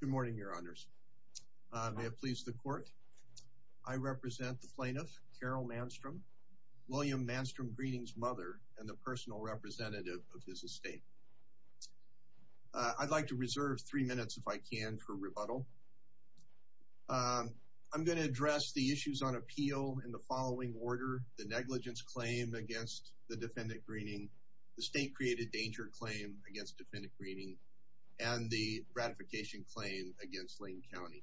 Good morning, your honors. May it please the court, I represent the plaintiff Carol Manstrom, William Manstrom Greening's mother and the personal representative of his estate. I'd like to reserve three minutes if I can for rebuttal. I'm going to address the issues on appeal in the following order, the negligence claim against the defendant Greening, the state created danger claim against defendant Greening, and the ratification claim against Lane County.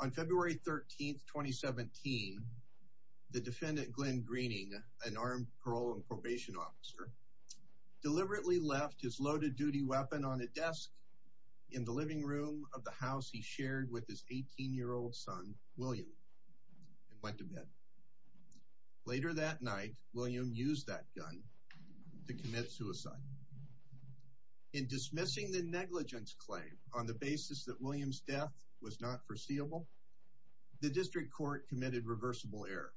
On February 13th, 2017, the defendant Glenn Greening, an armed parole and probation officer, deliberately left his loaded duty weapon on a desk in the living room of the house he shared with his 18 year old son, William, and went to bed. Later that in dismissing the negligence claim on the basis that William's death was not foreseeable, the district court committed reversible error.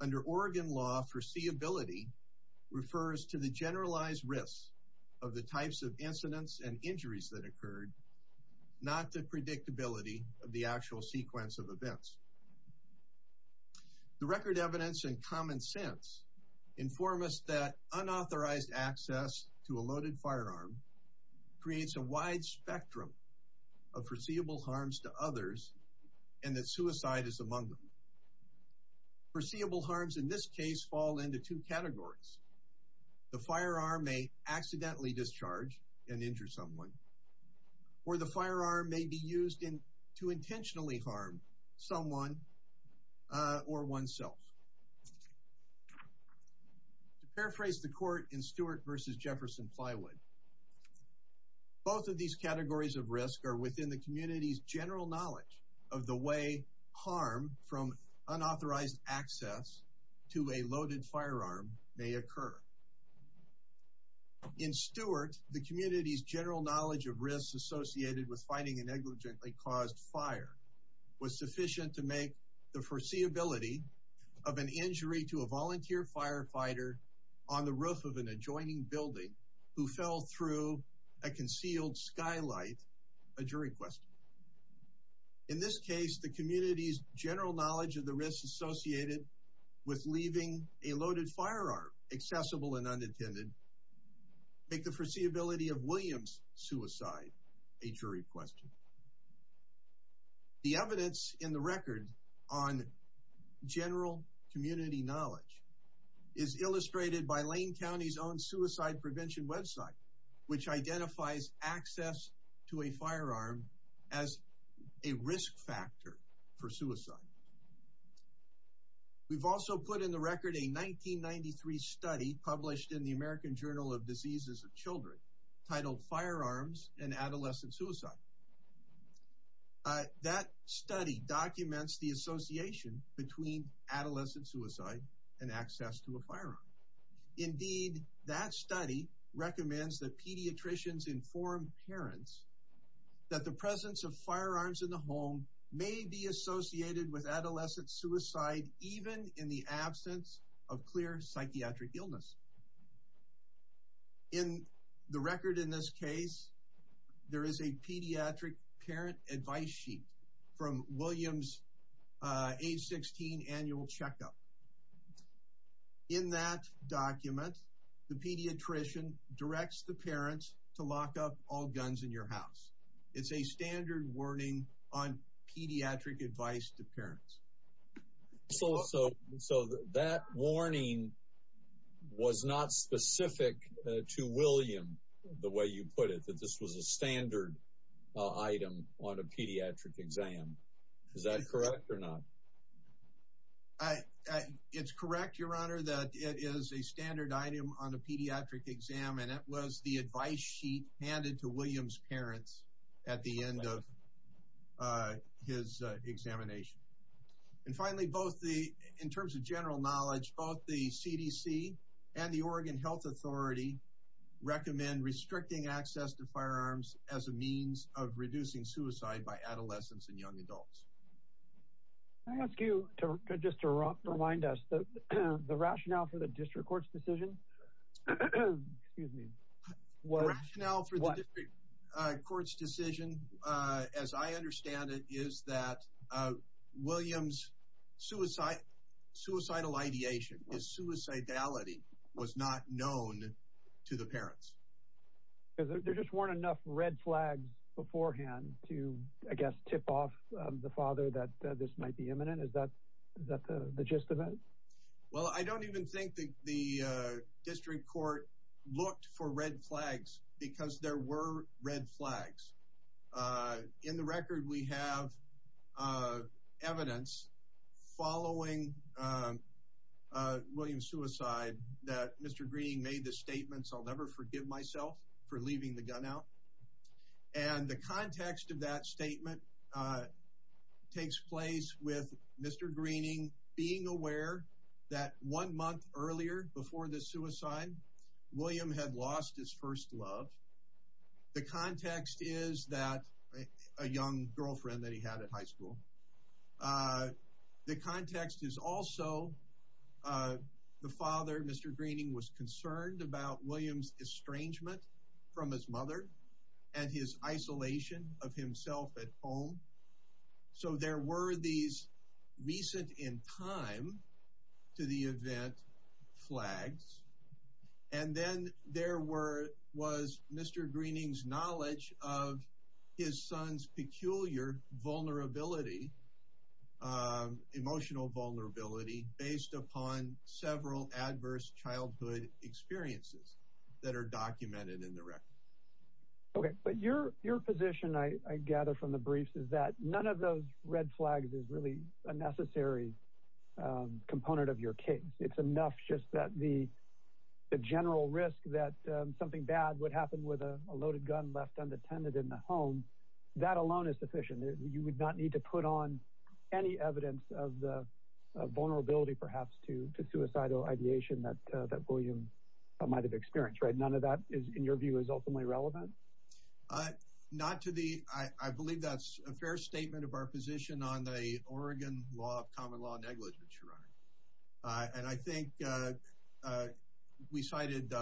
Under Oregon law, foreseeability refers to the generalized risk of the types of incidents and injuries that occurred, not the predictability of the actual sequence of events. The record evidence and common sense inform us that unauthorized access to a loaded firearm creates a wide spectrum of foreseeable harms to others and that suicide is among them. Foreseeable harms in this case fall into two categories. The firearm may accidentally discharge and injure someone or the firearm may be used in to intentionally harm someone or oneself. To Both of these categories of risk are within the community's general knowledge of the way harm from unauthorized access to a loaded firearm may occur. In Stewart, the community's general knowledge of risks associated with fighting a negligently caused fire was sufficient to make the foreseeability of an injury to a volunteer firefighter on the roof of an adjoining building who fell through a concealed skylight a jury question. In this case, the community's general knowledge of the risks associated with leaving a loaded firearm accessible and unintended make the foreseeability of William's suicide a jury question. The is illustrated by Lane County's own suicide prevention website which identifies access to a firearm as a risk factor for suicide. We've also put in the record a 1993 study published in the American Journal of Diseases of Children titled Firearms and Adolescent Suicide. That study documents the association between adolescent suicide and access to a firearm. Indeed, that study recommends that pediatricians inform parents that the presence of firearms in the home may be associated with adolescent suicide even in the absence of clear psychiatric illness. In the record in this case, there is a pediatric parent advice sheet from William's age 16 annual checkup. In that document, the pediatrician directs the parents to lock up all guns in your house. It's a standard warning on pediatric advice to parents. So that warning was not specific to William the way you put it, that this was a standard item on a pediatric exam. Is that correct or not? It's correct, your honor, that it is a standard item on a pediatric exam and it was the advice sheet handed to William's parents at the end of his examination. And finally, both the in terms of general knowledge, both the CDC and the of reducing suicide by adolescents and young adults. I ask you to just to remind us that the rationale for the district court's decision, excuse me, what rationale for the district court's decision, as I understand it, is that William's suicide, suicidal ideation, his suicidality was not known to the parents. There just weren't enough red flags beforehand to, I guess, tip off the father that this might be imminent. Is that the gist of it? Well, I don't even think that the district court looked for red flags because there were red flags. In the record, we have evidence following William's suicide that Mr. Green made the statements, I'll never forgive myself for leaving the gun out. And the context of that statement takes place with Mr. Greening being aware that one month earlier, before the suicide, William had lost his first love. The context is that a young girlfriend that he had at high school. The context is also the father, Mr. Greening, was concerned about William's estrangement from his mother and his isolation of himself at home. So there were these recent in time to the event flags. And then there was Mr. Greening's knowledge of his son's peculiar vulnerability, emotional vulnerability, based upon several adverse childhood experiences that are documented in the record. Okay, but your position, I gather from the briefs, is that none of those red flags is really a necessary component of your case. It's enough just that the general risk that something bad would happen with a loaded gun left unattended in the home. That alone is sufficient. You would not need to put on any evidence of the vulnerability perhaps to suicidal ideation that William might have experienced, right? None of that is, in your view, is ultimately relevant? Not to the, I believe that's a fair statement of our position on the Oregon law of common law negligence, Your Honor. And I think we cited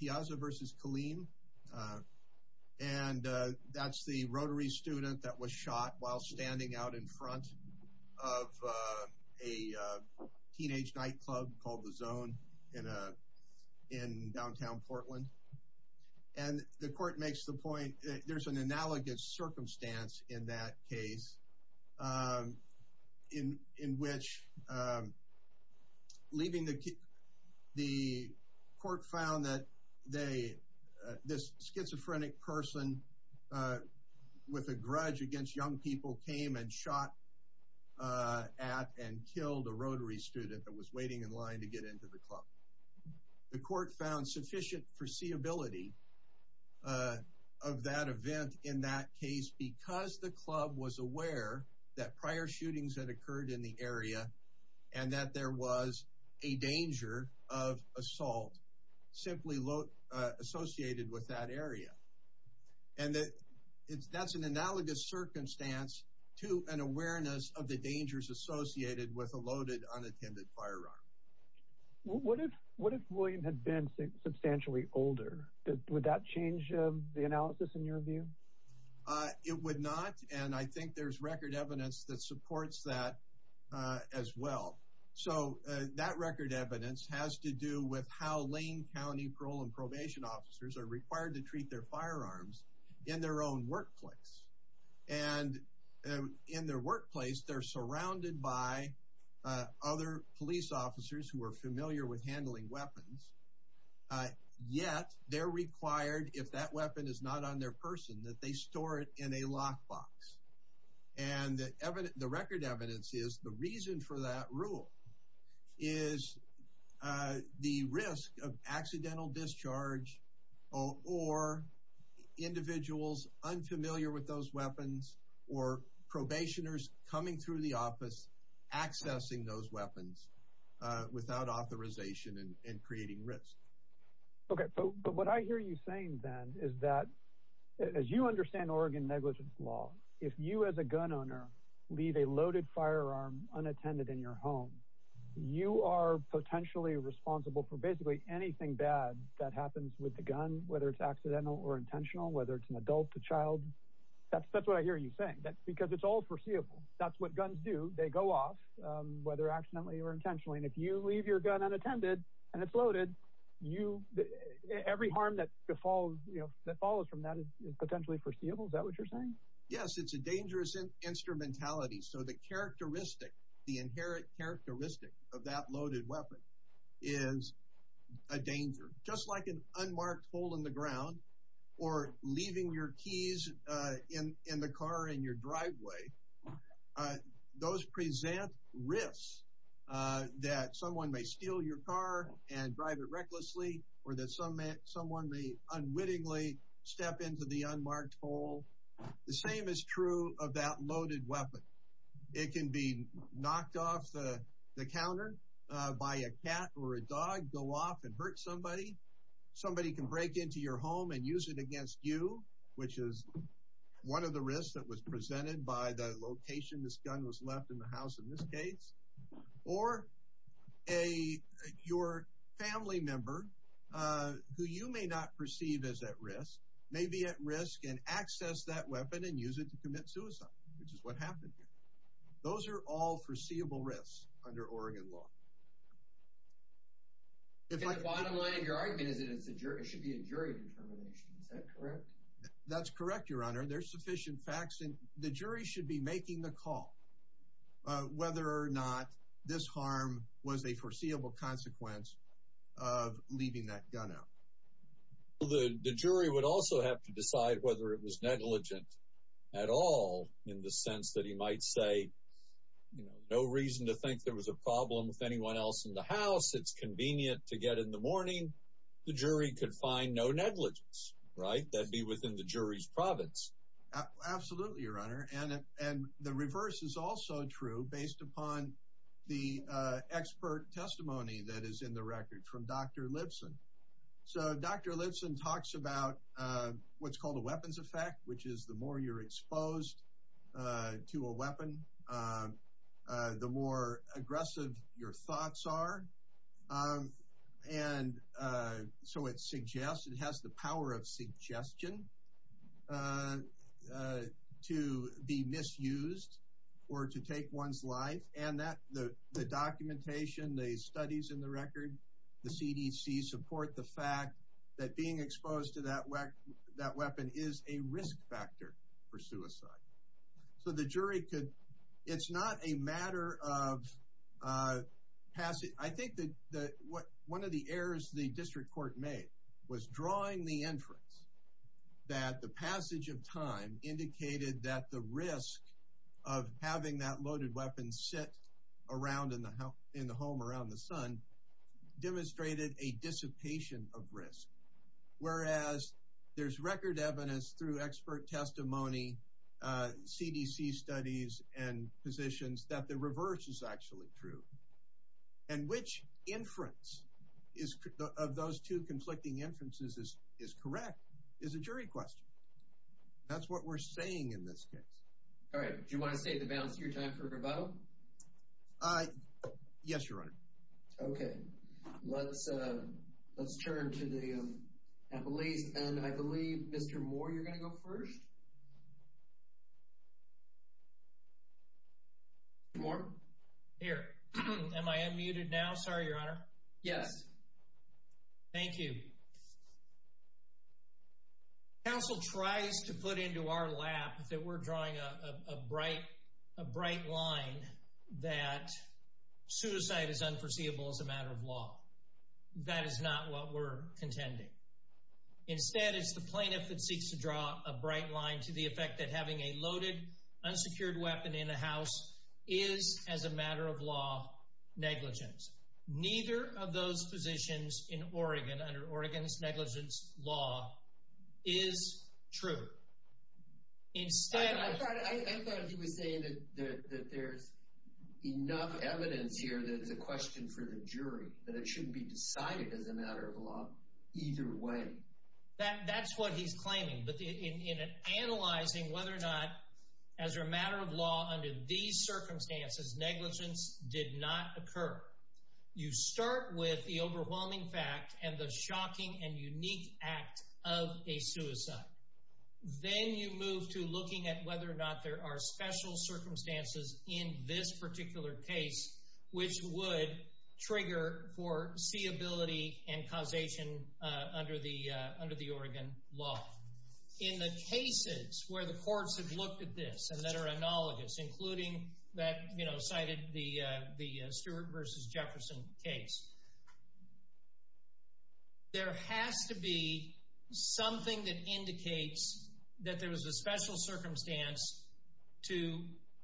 Piazza versus Killeen. And that's the rotary student that was shot while standing out in front of a teenage nightclub called The Zone in downtown Portland. And the court in which leaving the, the court found that they, this schizophrenic person with a grudge against young people came and shot at and killed a rotary student that was waiting in line to get into the club. The court found sufficient foreseeability of that event in that case because the club was aware that prior shootings had occurred in the area and that there was a danger of assault simply associated with that area. And that's an analogous circumstance to an awareness of the dangers associated with a loaded unattended firearm. What if, what if William had been substantially older? Would that change the analysis in your view? It would not. And I think there's record evidence that supports that as well. So that record evidence has to do with how Lane County parole and probation officers are required to treat their firearms in their own workplace. And in their offices, who are familiar with handling weapons, yet they're required, if that weapon is not on their person, that they store it in a lock box. And the record evidence is the reason for that rule is the risk of accidental discharge or individuals unfamiliar with those weapons or probationers coming through the office accessing those weapons without authorization and creating risk. Okay, but what I hear you saying then is that as you understand Oregon negligence law, if you as a gun owner leave a loaded firearm unattended in your home, you are potentially responsible for basically anything bad that happens with the gun, whether it's accidental or intentional, whether it's an adult, a child. That's that's what I hear you saying. That's because it's all foreseeable. That's what whether accidentally or intentionally, and if you leave your gun unattended, and it's loaded, you every harm that falls, you know, that follows from that is potentially foreseeable. Is that what you're saying? Yes, it's a dangerous instrumentality. So the characteristic, the inherent characteristic of that loaded weapon is a danger just like an unmarked hole in the wrist, that someone may steal your car and drive it recklessly, or that someone may unwittingly step into the unmarked hole. The same is true of that loaded weapon. It can be knocked off the counter by a cat or a dog, go off and hurt somebody. Somebody can break into your home and use it against you, which is one of the risks that was presented by the location this gun was left in the house in this case, or a your family member, who you may not perceive as at risk, may be at risk and access that weapon and use it to commit suicide, which is what happened here. Those are all foreseeable risks under Oregon law. If my bottom line of your argument is that it's a jury, it should be a jury determination. Is that correct? That's correct, Your Honor, there's sufficient facts and the jury should be making the call, whether or not this harm was a foreseeable consequence of leaving that gun out. The jury would also have to decide whether it was negligent at all, in the sense that he might say, you know, no reason to think there was a problem with anyone else in the house, it's convenient to get in the morning. The jury could find no negligence, right? That'd be within the jury's province. Absolutely, Your Honor. And the reverse is also true based upon the expert testimony that is in the record from Dr. Lipson. So Dr. Lipson talks about what's called a weapons effect, which is the more you're exposed to a weapon, the more to be misused, or to take one's life. And that the documentation, the studies in the record, the CDC support the fact that being exposed to that weapon is a risk factor for suicide. So the jury could, it's not a matter of passing, I think that what one of the errors the district court made was drawing the inference that the passage of time indicated that the risk of having that loaded weapon sit around in the home, around the sun, demonstrated a dissipation of risk. Whereas there's record evidence through expert testimony, CDC studies, and positions that the reverse is actually true. And which inference of those two That's what we're saying in this case. All right. Do you want to state the balance of your time for rebuttal? Yes, Your Honor. Okay. Let's turn to the appellees. And I believe Mr. Moore, you're going to go first? Mr. Moore? Here. Am I unmuted now? Sorry, Your Honor. Yes. Thank you. The counsel tries to put into our lap that we're drawing a bright, a bright line that suicide is unforeseeable as a matter of law. That is not what we're contending. Instead, it's the plaintiff that seeks to draw a bright line to the effect that having a loaded, unsecured weapon in a house is, as a matter of law, negligence. Neither of those positions in Oregon, under Oregon's negligence law, is true. Instead... I thought he was saying that there's enough evidence here that it's a question for the jury, that it shouldn't be decided as a matter of law either way. That's what he's claiming. But in analyzing whether or not, as a matter of law, negligence can or cannot occur, you start with the overwhelming fact and the shocking and unique act of a suicide. Then you move to looking at whether or not there are special circumstances in this particular case which would trigger foreseeability and causation under the Oregon law. In the cases where the courts have looked at this and that are analogous, including that, you know, cited the Stewart v. Jefferson case, there has to be something that indicates that there was a special circumstance to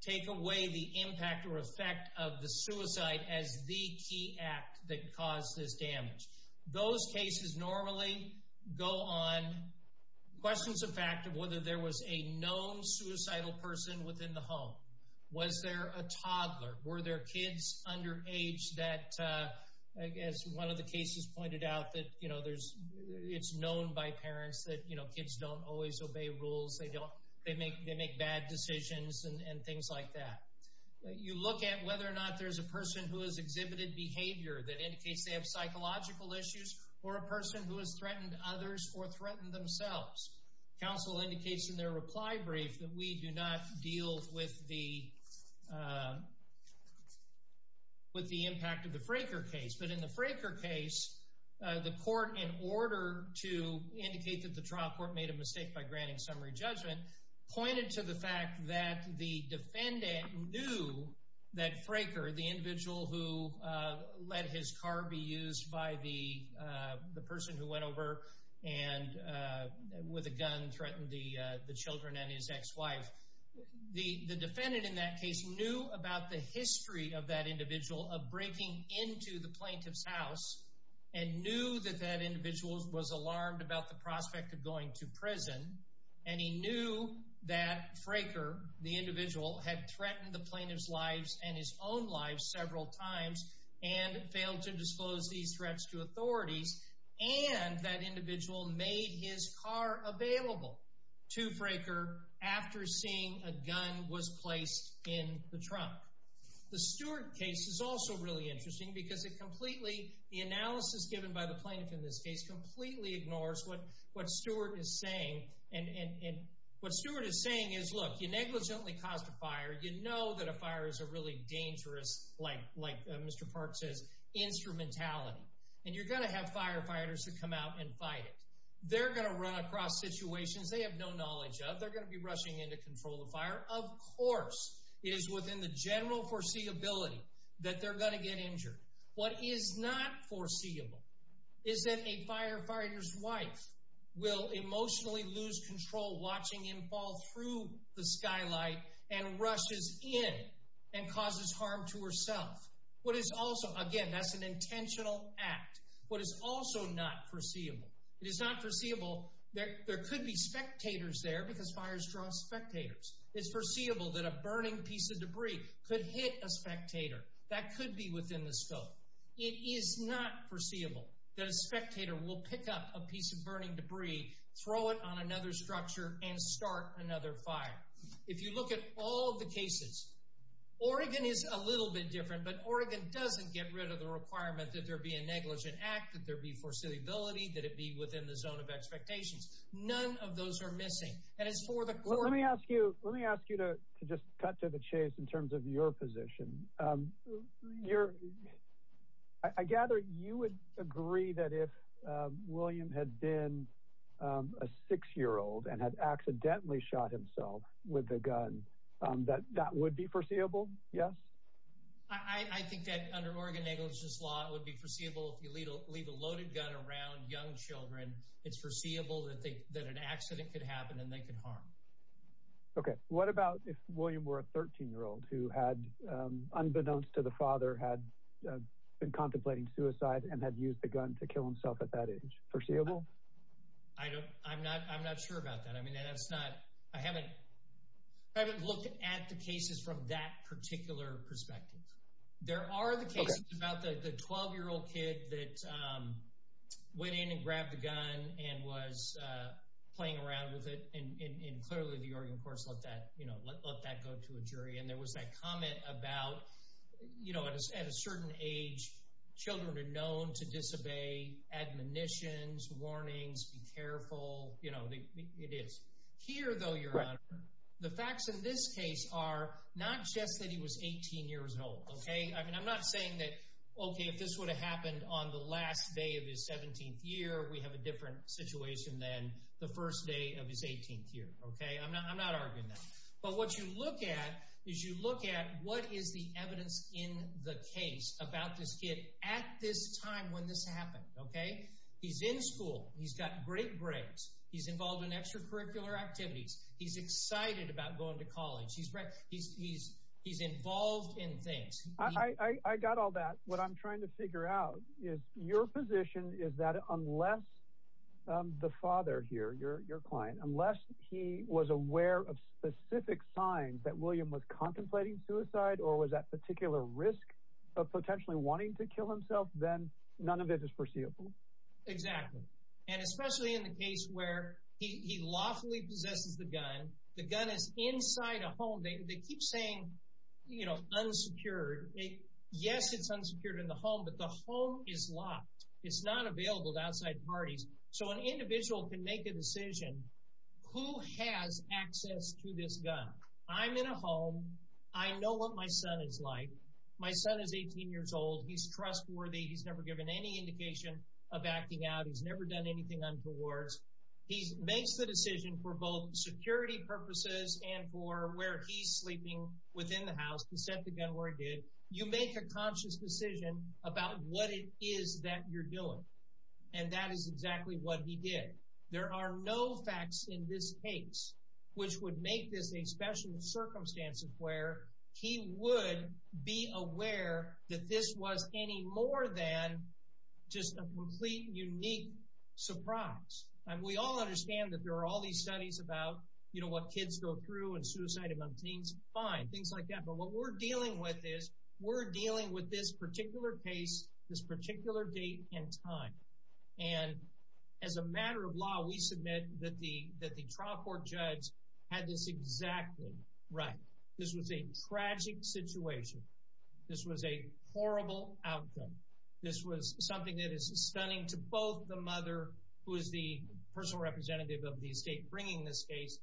take away the impact or effect of the suicide as the key act that caused this damage. Those cases normally go on questions of whether there was a known suicidal person within the home. Was there a toddler? Were there kids underage that, as one of the cases pointed out, that it's known by parents that kids don't always obey rules. They make bad decisions and things like that. You look at whether or not there's a person who has exhibited behavior that indicates they have psychological issues or a person who has indicates in their reply brief that we do not deal with the impact of the Fraker case. But in the Fraker case, the court, in order to indicate that the trial court made a mistake by granting summary judgment, pointed to the fact that the defendant knew that Fraker, the individual who let his car be used by the person who went over and with a gun threatened the children and his ex-wife. The defendant in that case knew about the history of that individual of breaking into the plaintiff's house and knew that that individual was alarmed about the prospect of going to prison. And he knew that Fraker, the individual, had threatened the plaintiff's lives and his own life several times and failed to address these threats to authorities. And that individual made his car available to Fraker after seeing a gun was placed in the trunk. The Stewart case is also really interesting because it completely, the analysis given by the plaintiff in this case, completely ignores what Stewart is saying. And what Stewart is saying is, look, you negligently caused a fire. You know that a fire is a really dangerous, like Mr. Park says, instrumentality. And you're going to have firefighters who come out and fight it. They're going to run across situations they have no knowledge of. They're going to be rushing in to control the fire. Of course, it is within the general foreseeability that they're going to get injured. What is not foreseeable is that a firefighter's wife will emotionally lose control watching him fall through the skylight and rushes in and causes harm to herself. What is also, again, that's an intentional act. What is also not foreseeable, it is not foreseeable, there could be spectators there because fires draw spectators. It's foreseeable that a burning piece of debris could hit a spectator. That could be within the scope. It is not foreseeable that a spectator will pick up a piece of burning debris, throw it on another a little bit different. But Oregon doesn't get rid of the requirement that there be a negligent act, that there be foreseeability, that it be within the zone of expectations. None of those are missing. And it's for the court. Let me ask you, let me ask you to just cut to the chase in terms of your position. I gather you would agree that if William had been a six-year-old and had accidentally shot himself with a gun, that that would be foreseeable? Yes. I think that under Oregon negligence law, it would be foreseeable if you leave a loaded gun around young children. It's foreseeable that an accident could happen and they could harm. Okay. What about if William were a 13-year-old who had, unbeknownst to the father, had been contemplating suicide and had used the gun to kill himself at that age? Foreseeable? I'm not sure about that. I haven't looked at the cases from that particular perspective. There are the cases about the 12-year-old kid that went in and grabbed a gun and was playing around with it. And clearly the Oregon courts let that, you know, let that go to a jury. And there was that comment about, you know, at a certain age, children are known to disobey admonitions, warnings, be careful. You know, it is. Here though, Your Honor, the facts in this case are not just that he was 18 years old. Okay. I mean, I'm not saying that, okay, if this would have happened on the last day of his 17th year, we have a different situation than the first day of his 18th year. Okay. I'm not, I'm not arguing that. But what you look at is you look at what is the evidence in the case about this kid at this time when this happened. Okay. He's in school. He's got great grades. He's involved in extracurricular activities. He's excited about going to college. He's, he's, he's involved in things. I got all that. What I'm trying to figure out is your position is that unless the father here, your, your client, unless he was aware of specific signs that William was contemplating suicide or was at particular risk of potentially wanting to kill himself, then none of it is foreseeable. Exactly. And he lawfully possesses the gun. The gun is inside a home. They, they keep saying, you know, unsecured. Yes, it's unsecured in the home, but the home is locked. It's not available to outside parties. So an individual can make a decision who has access to this gun. I'm in a home. I know what my son is like. My son is 18 years old. He's trustworthy. He's never given any indication of acting out. He's never done anything untowards. He makes the decision for both security purposes and for where he's sleeping within the house. He sent the gun where it did. You make a conscious decision about what it is that you're doing. And that is exactly what he did. There are no facts in this case, which would make this a special circumstance of where he would be aware that this was any more than just a complete, unique surprise. And we all understand that there are all these studies about, you know, what kids go through and suicide among teens. Fine. Things like that. But what we're dealing with is, we're dealing with this particular case, this particular date and time. And as a matter of law, we submit that the, that the trial court judge had this exactly right. This was a tragic situation. This was a horrible outcome. This was something that is stunning to both the mother, who is the personal representative of the estate, bringing this case.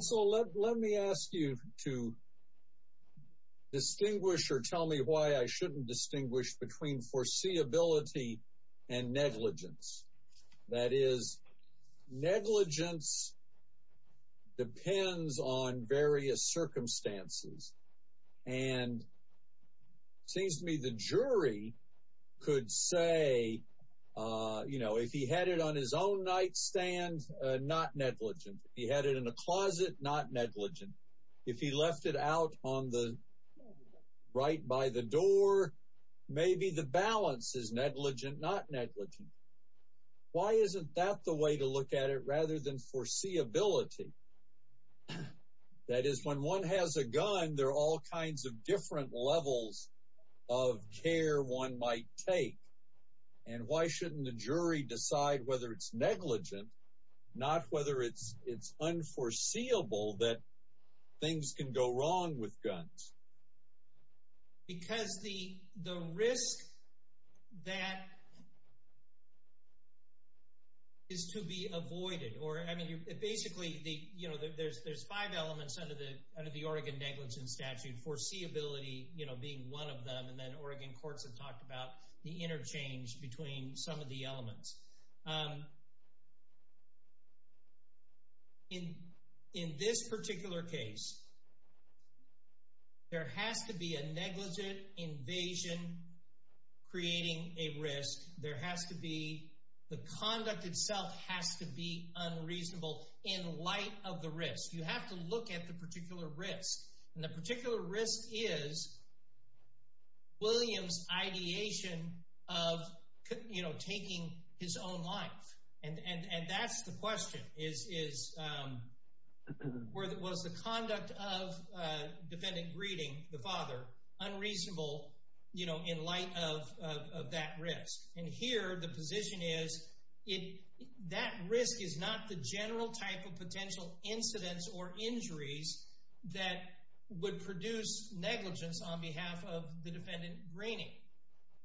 So let me ask you to distinguish or tell me why I shouldn't distinguish between foreseeability and negligence. That is, negligence depends on various circumstances. And it seems to me the jury could say, you know, if he had it on his own nightstand, not negligent. If he had it in a closet, not negligent. If he left it out on the right by the door, maybe the balance is negligent, not negligent. Why isn't that the way to look at it rather than foreseeability? That is, when one has a gun, there are all kinds of different levels of care one might take. And why shouldn't the jury decide whether it's negligent, not whether it's unforeseeable that things can go wrong with guns? Because the risk that is to be avoided or, I mean, basically, you know, there's five elements under the Oregon negligence statute, foreseeability, you know, being one of them. And then Oregon courts have talked about the interchange between some of the elements. In this particular case, there has to be a negligent invasion creating a risk. There has to be, the conduct itself has to be unreasonable in light of the risk. You have to look at the particular risk. And the particular risk is, you know, taking his own life. And that's the question is, was the conduct of defendant greeting the father unreasonable, you know, in light of that risk? And here, the position is, that risk is not the general type of potential incidents or injuries that would produce negligence on behalf of the defendant greeting.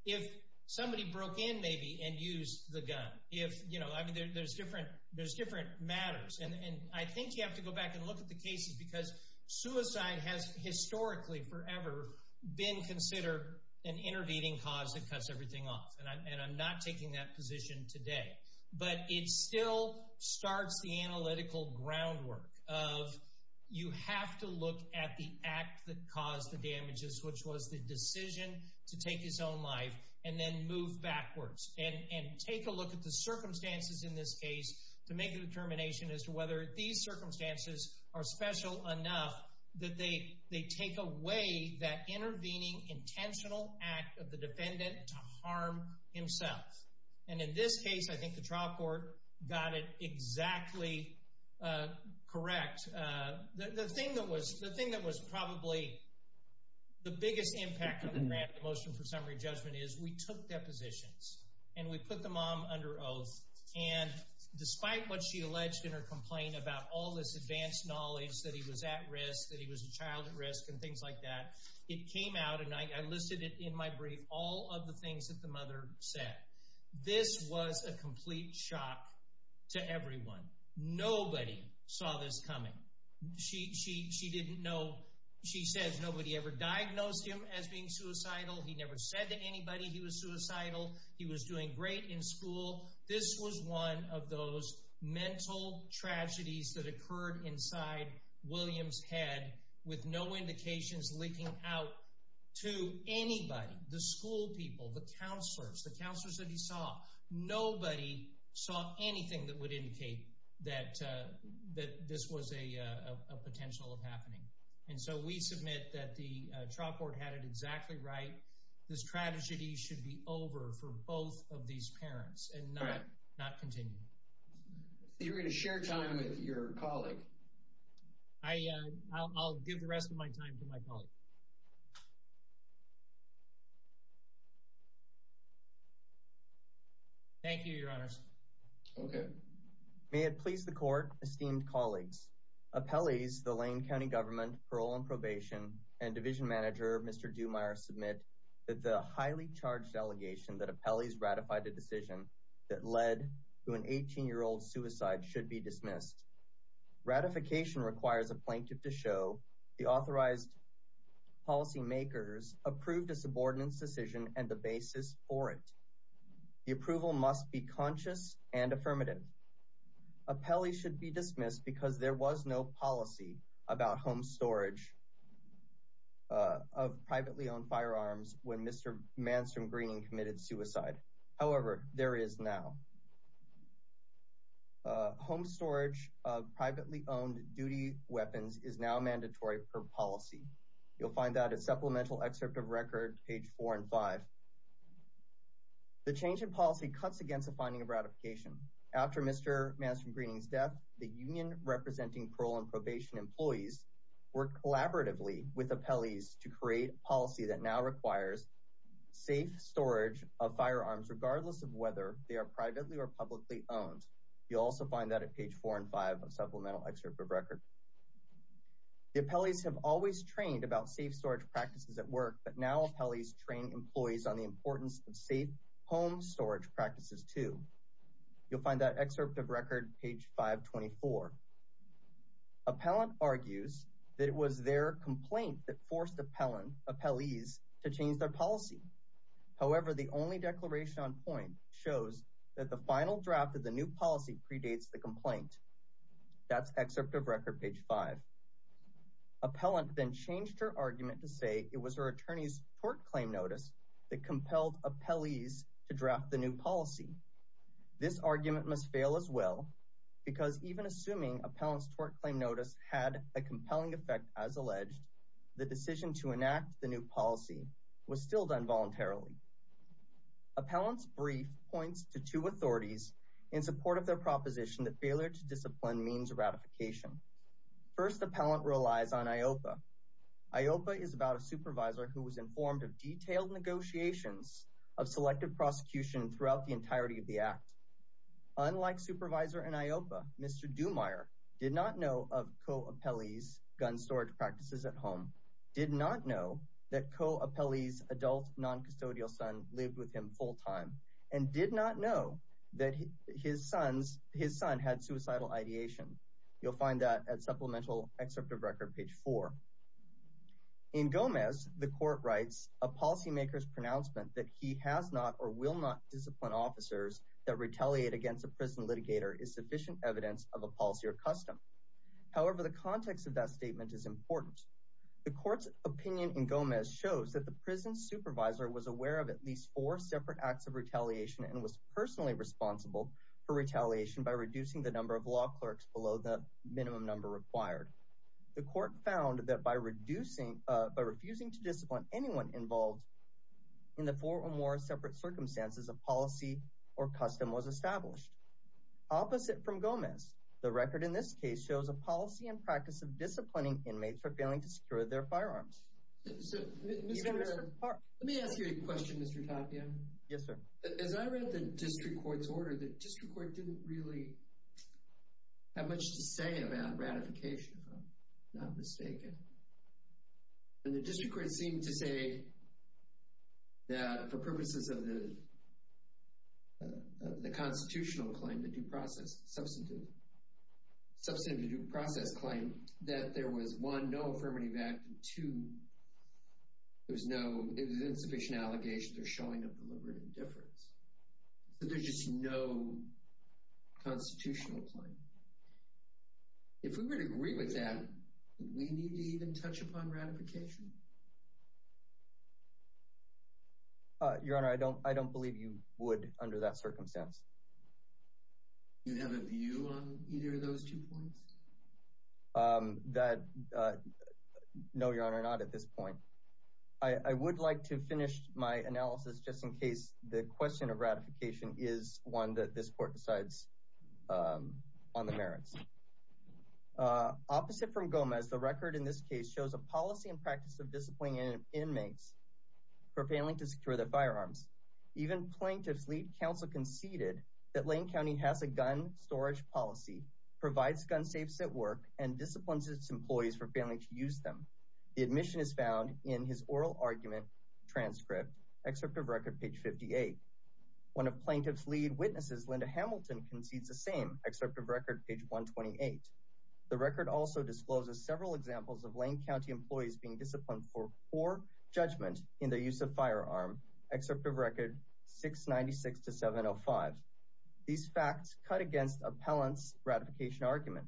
If somebody broke in, maybe, and used the gun. If, you know, I mean, there's different matters. And I think you have to go back and look at the cases because suicide has historically forever been considered an intervening cause that cuts everything off. And I'm not taking that position today. But it still starts the analytical groundwork of, you have to look at the act that caused the damages, which was the decision to take his own life and then move backwards. And take a look at the circumstances in this case to make a determination as to whether these circumstances are special enough that they take away that intervening intentional act of the defendant to harm himself. And in this case, I think the trial court got it exactly correct. The thing that was probably the biggest impact on the grant, the motion for summary judgment, is we took depositions. And we put the mom under oath. And despite what she alleged in her complaint about all this advanced knowledge that he was at risk, that he was a child at risk, and things like that, it came out, and I listed it in my brief, all of the things that the mother said. This was a complete shock to everyone. Nobody saw this coming. She didn't know. She says nobody ever diagnosed him as being suicidal. He never said to anybody he was suicidal. He was doing great in school. This was one of those mental tragedies that occurred inside William's head with no indications leaking out to anybody. The school people, the counselors, the counselors that he saw, nobody saw anything that would indicate that this was a potential happening. And so we submit that the trial court had it exactly right. This tragedy should be over for both of these parents and not continue. So you're going to share time with your colleague? I'll give the rest of my time to my colleague. Thank you, your honors. Okay. May it please the court, esteemed colleagues. Appellees, the Lane County government, parole and probation, and division manager, Mr. Dumeier, submit that the highly charged allegation that appellees ratified a decision that led to an 18-year-old's suicide should be dismissed. Ratification requires a plaintiff to show the authorized policy makers approved subordinates decision and the basis for it. The approval must be conscious and affirmative. Appellees should be dismissed because there was no policy about home storage of privately owned firearms when Mr. Manson Greening committed suicide. However, there is now. Home storage of privately owned duty weapons is now mandatory per policy. You'll find that supplemental excerpt of record, page four and five. The change in policy cuts against the finding of ratification. After Mr. Manson Greening's death, the union representing parole and probation employees work collaboratively with appellees to create policy that now requires safe storage of firearms, regardless of whether they are privately or publicly owned. You'll also find that at page four and five of supplemental excerpt of record. The appellees have always trained about safe storage practices at work, but now appellees train employees on the importance of safe home storage practices too. You'll find that excerpt of record, page 524. Appellant argues that it was their complaint that forced the appellees to change their policy. However, the only declaration on point shows that the final draft of the new policy predates the complaint. That's excerpt of record, page five. Appellant then changed her argument to say it was her attorney's tort claim notice that compelled appellees to draft the new policy. This argument must fail as well because even assuming appellant's tort claim notice had a compelling effect as alleged, the decision to enact the new policy was still done in support of their proposition that failure to discipline means ratification. First, appellant relies on IOPA. IOPA is about a supervisor who was informed of detailed negotiations of selective prosecution throughout the entirety of the act. Unlike supervisor in IOPA, Mr. Dumeier did not know of co-appellee's gun storage practices at home, did not know that co-appellee's adult non-custodial son lived with him full-time, and did not know that his son had suicidal ideation. You'll find that at supplemental excerpt of record, page four. In Gomez, the court writes a policymaker's pronouncement that he has not or will not discipline officers that retaliate against a prison litigator is sufficient evidence of a policy or custom. However, the context of that was aware of at least four separate acts of retaliation and was personally responsible for retaliation by reducing the number of law clerks below the minimum number required. The court found that by refusing to discipline anyone involved in the four or more separate circumstances, a policy or custom was established. Opposite from Gomez, the record in this case shows a policy and practice of disciplining inmates for failing to secure their firearms. Let me ask you a question, Mr. Tapia. Yes, sir. As I read the district court's order, the district court didn't really have much to say about ratification, if I'm not mistaken. And the district court seemed to say that for purposes of the constitutional claim, the due process claim, that there was one, no affirmative act, and two, there was insufficient allegation, they're showing a deliberate indifference. So there's just no constitutional claim. If we would agree with that, do we need to even touch upon ratification? Your Honor, I don't believe you would under that circumstance. Do you have a view on either of those two points? No, Your Honor, not at this point. I would like to finish my analysis just in case the question of ratification is one that this court decides on the merits. Opposite from Gomez, the record in this case shows a policy and practice of disciplining inmates for failing to secure their firearms. Even plaintiff's lead counsel conceded that Lane County has a gun storage policy, provides gun safes at work, and disciplines its employees for failing to use them. The admission is found in his oral argument transcript, excerpt of record page 58. One of plaintiff's lead witnesses, Linda Hamilton, concedes the same, excerpt of record page 128. The record also discloses several examples of Lane County employees being disciplined for judgment in the use of firearm, excerpt of record 696 to 705. These facts cut against appellant's ratification argument.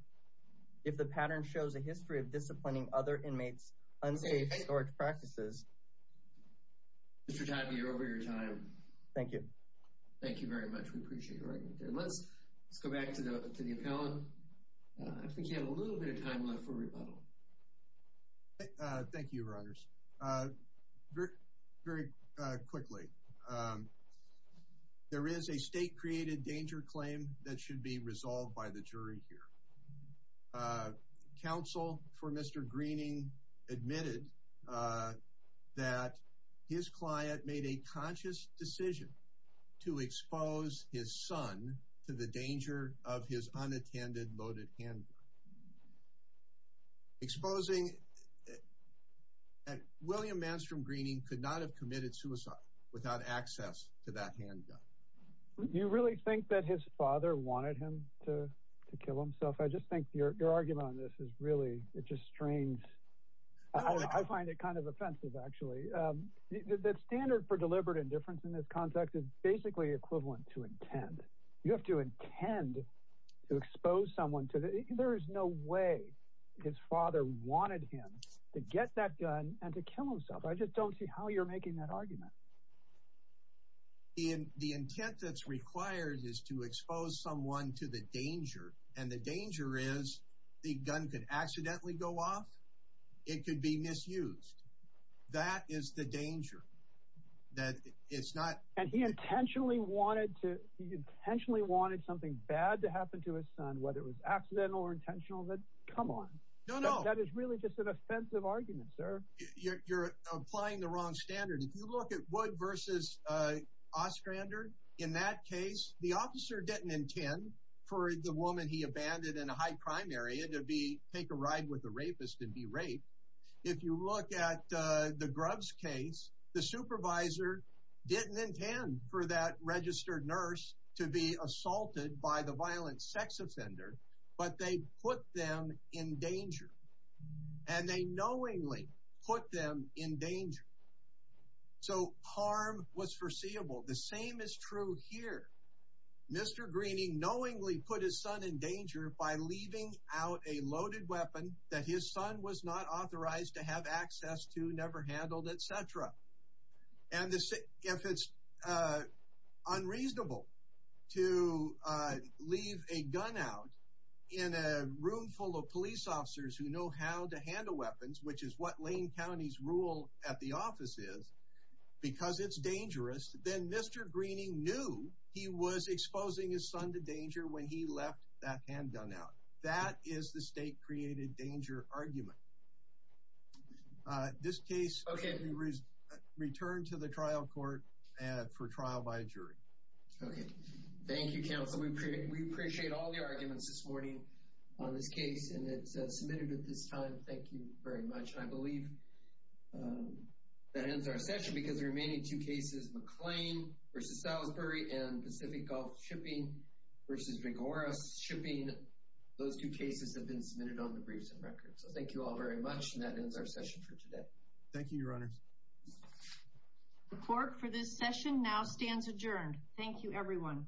If the pattern shows a history of disciplining other inmates' unsafe storage practices. Mr. Tadby, you're over your time. Thank you. Thank you very much. We appreciate your argument. Let's go back to the appellant. I think you have a little bit of time left for rebuttal. Thank you, Your Honors. Very quickly. There is a state-created danger claim that should be resolved by the jury here. Counsel for Mr. Greening admitted that his client made a conscious decision to expose his son to the danger of his unattended loaded handgun. Exposing that William Manstrom Greening could not have committed suicide without access to that handgun. You really think that his father wanted him to kill himself? I just think your argument on this is really, it's just strange. I find it kind of offensive, actually. The standard for deliberate indifference in this context is basically equivalent to intent. You have to intend to expose someone. There is no way his father wanted him to get that gun and to kill himself. I just don't see how you're making that argument. The intent that's required is to expose someone to the danger, and the danger is the gun could accidentally go off. It could be misused. That is the danger. And he intentionally wanted something bad to happen to his son, whether it was accidental or intentional. Come on. That is really just an offensive argument, sir. You're applying the wrong standard. If you look at Wood v. Ostrander, in that case, the officer didn't intend for the woman he abandoned in a high crime area to take a ride with a rapist and be raped. If you look at the Grubbs case, the supervisor didn't intend for that registered nurse to be assaulted by the violent sex offender, but they put them in danger. And they knowingly put them in danger. So harm was foreseeable. The same is true here. Mr. Greening knowingly put his son in danger by etc. And if it's unreasonable to leave a gun out in a room full of police officers who know how to handle weapons, which is what Lane County's rule at the office is, because it's dangerous, then Mr. Greening knew he was exposing his son to danger when he left that handgun out. That is the state created danger argument. This case returned to the trial court for trial by a jury. Okay. Thank you, counsel. We appreciate all the arguments this morning on this case, and it's submitted at this time. Thank you very much. I believe that ends our session because the remaining two cases, McLean v. Salisbury and Pacific Gulf Shipping v. Gregoras Shipping, those two cases have been submitted on the briefs and records. So thank you all very much, and that ends our session for today. Thank you, your honors. Report for this session now stands adjourned. Thank you, everyone.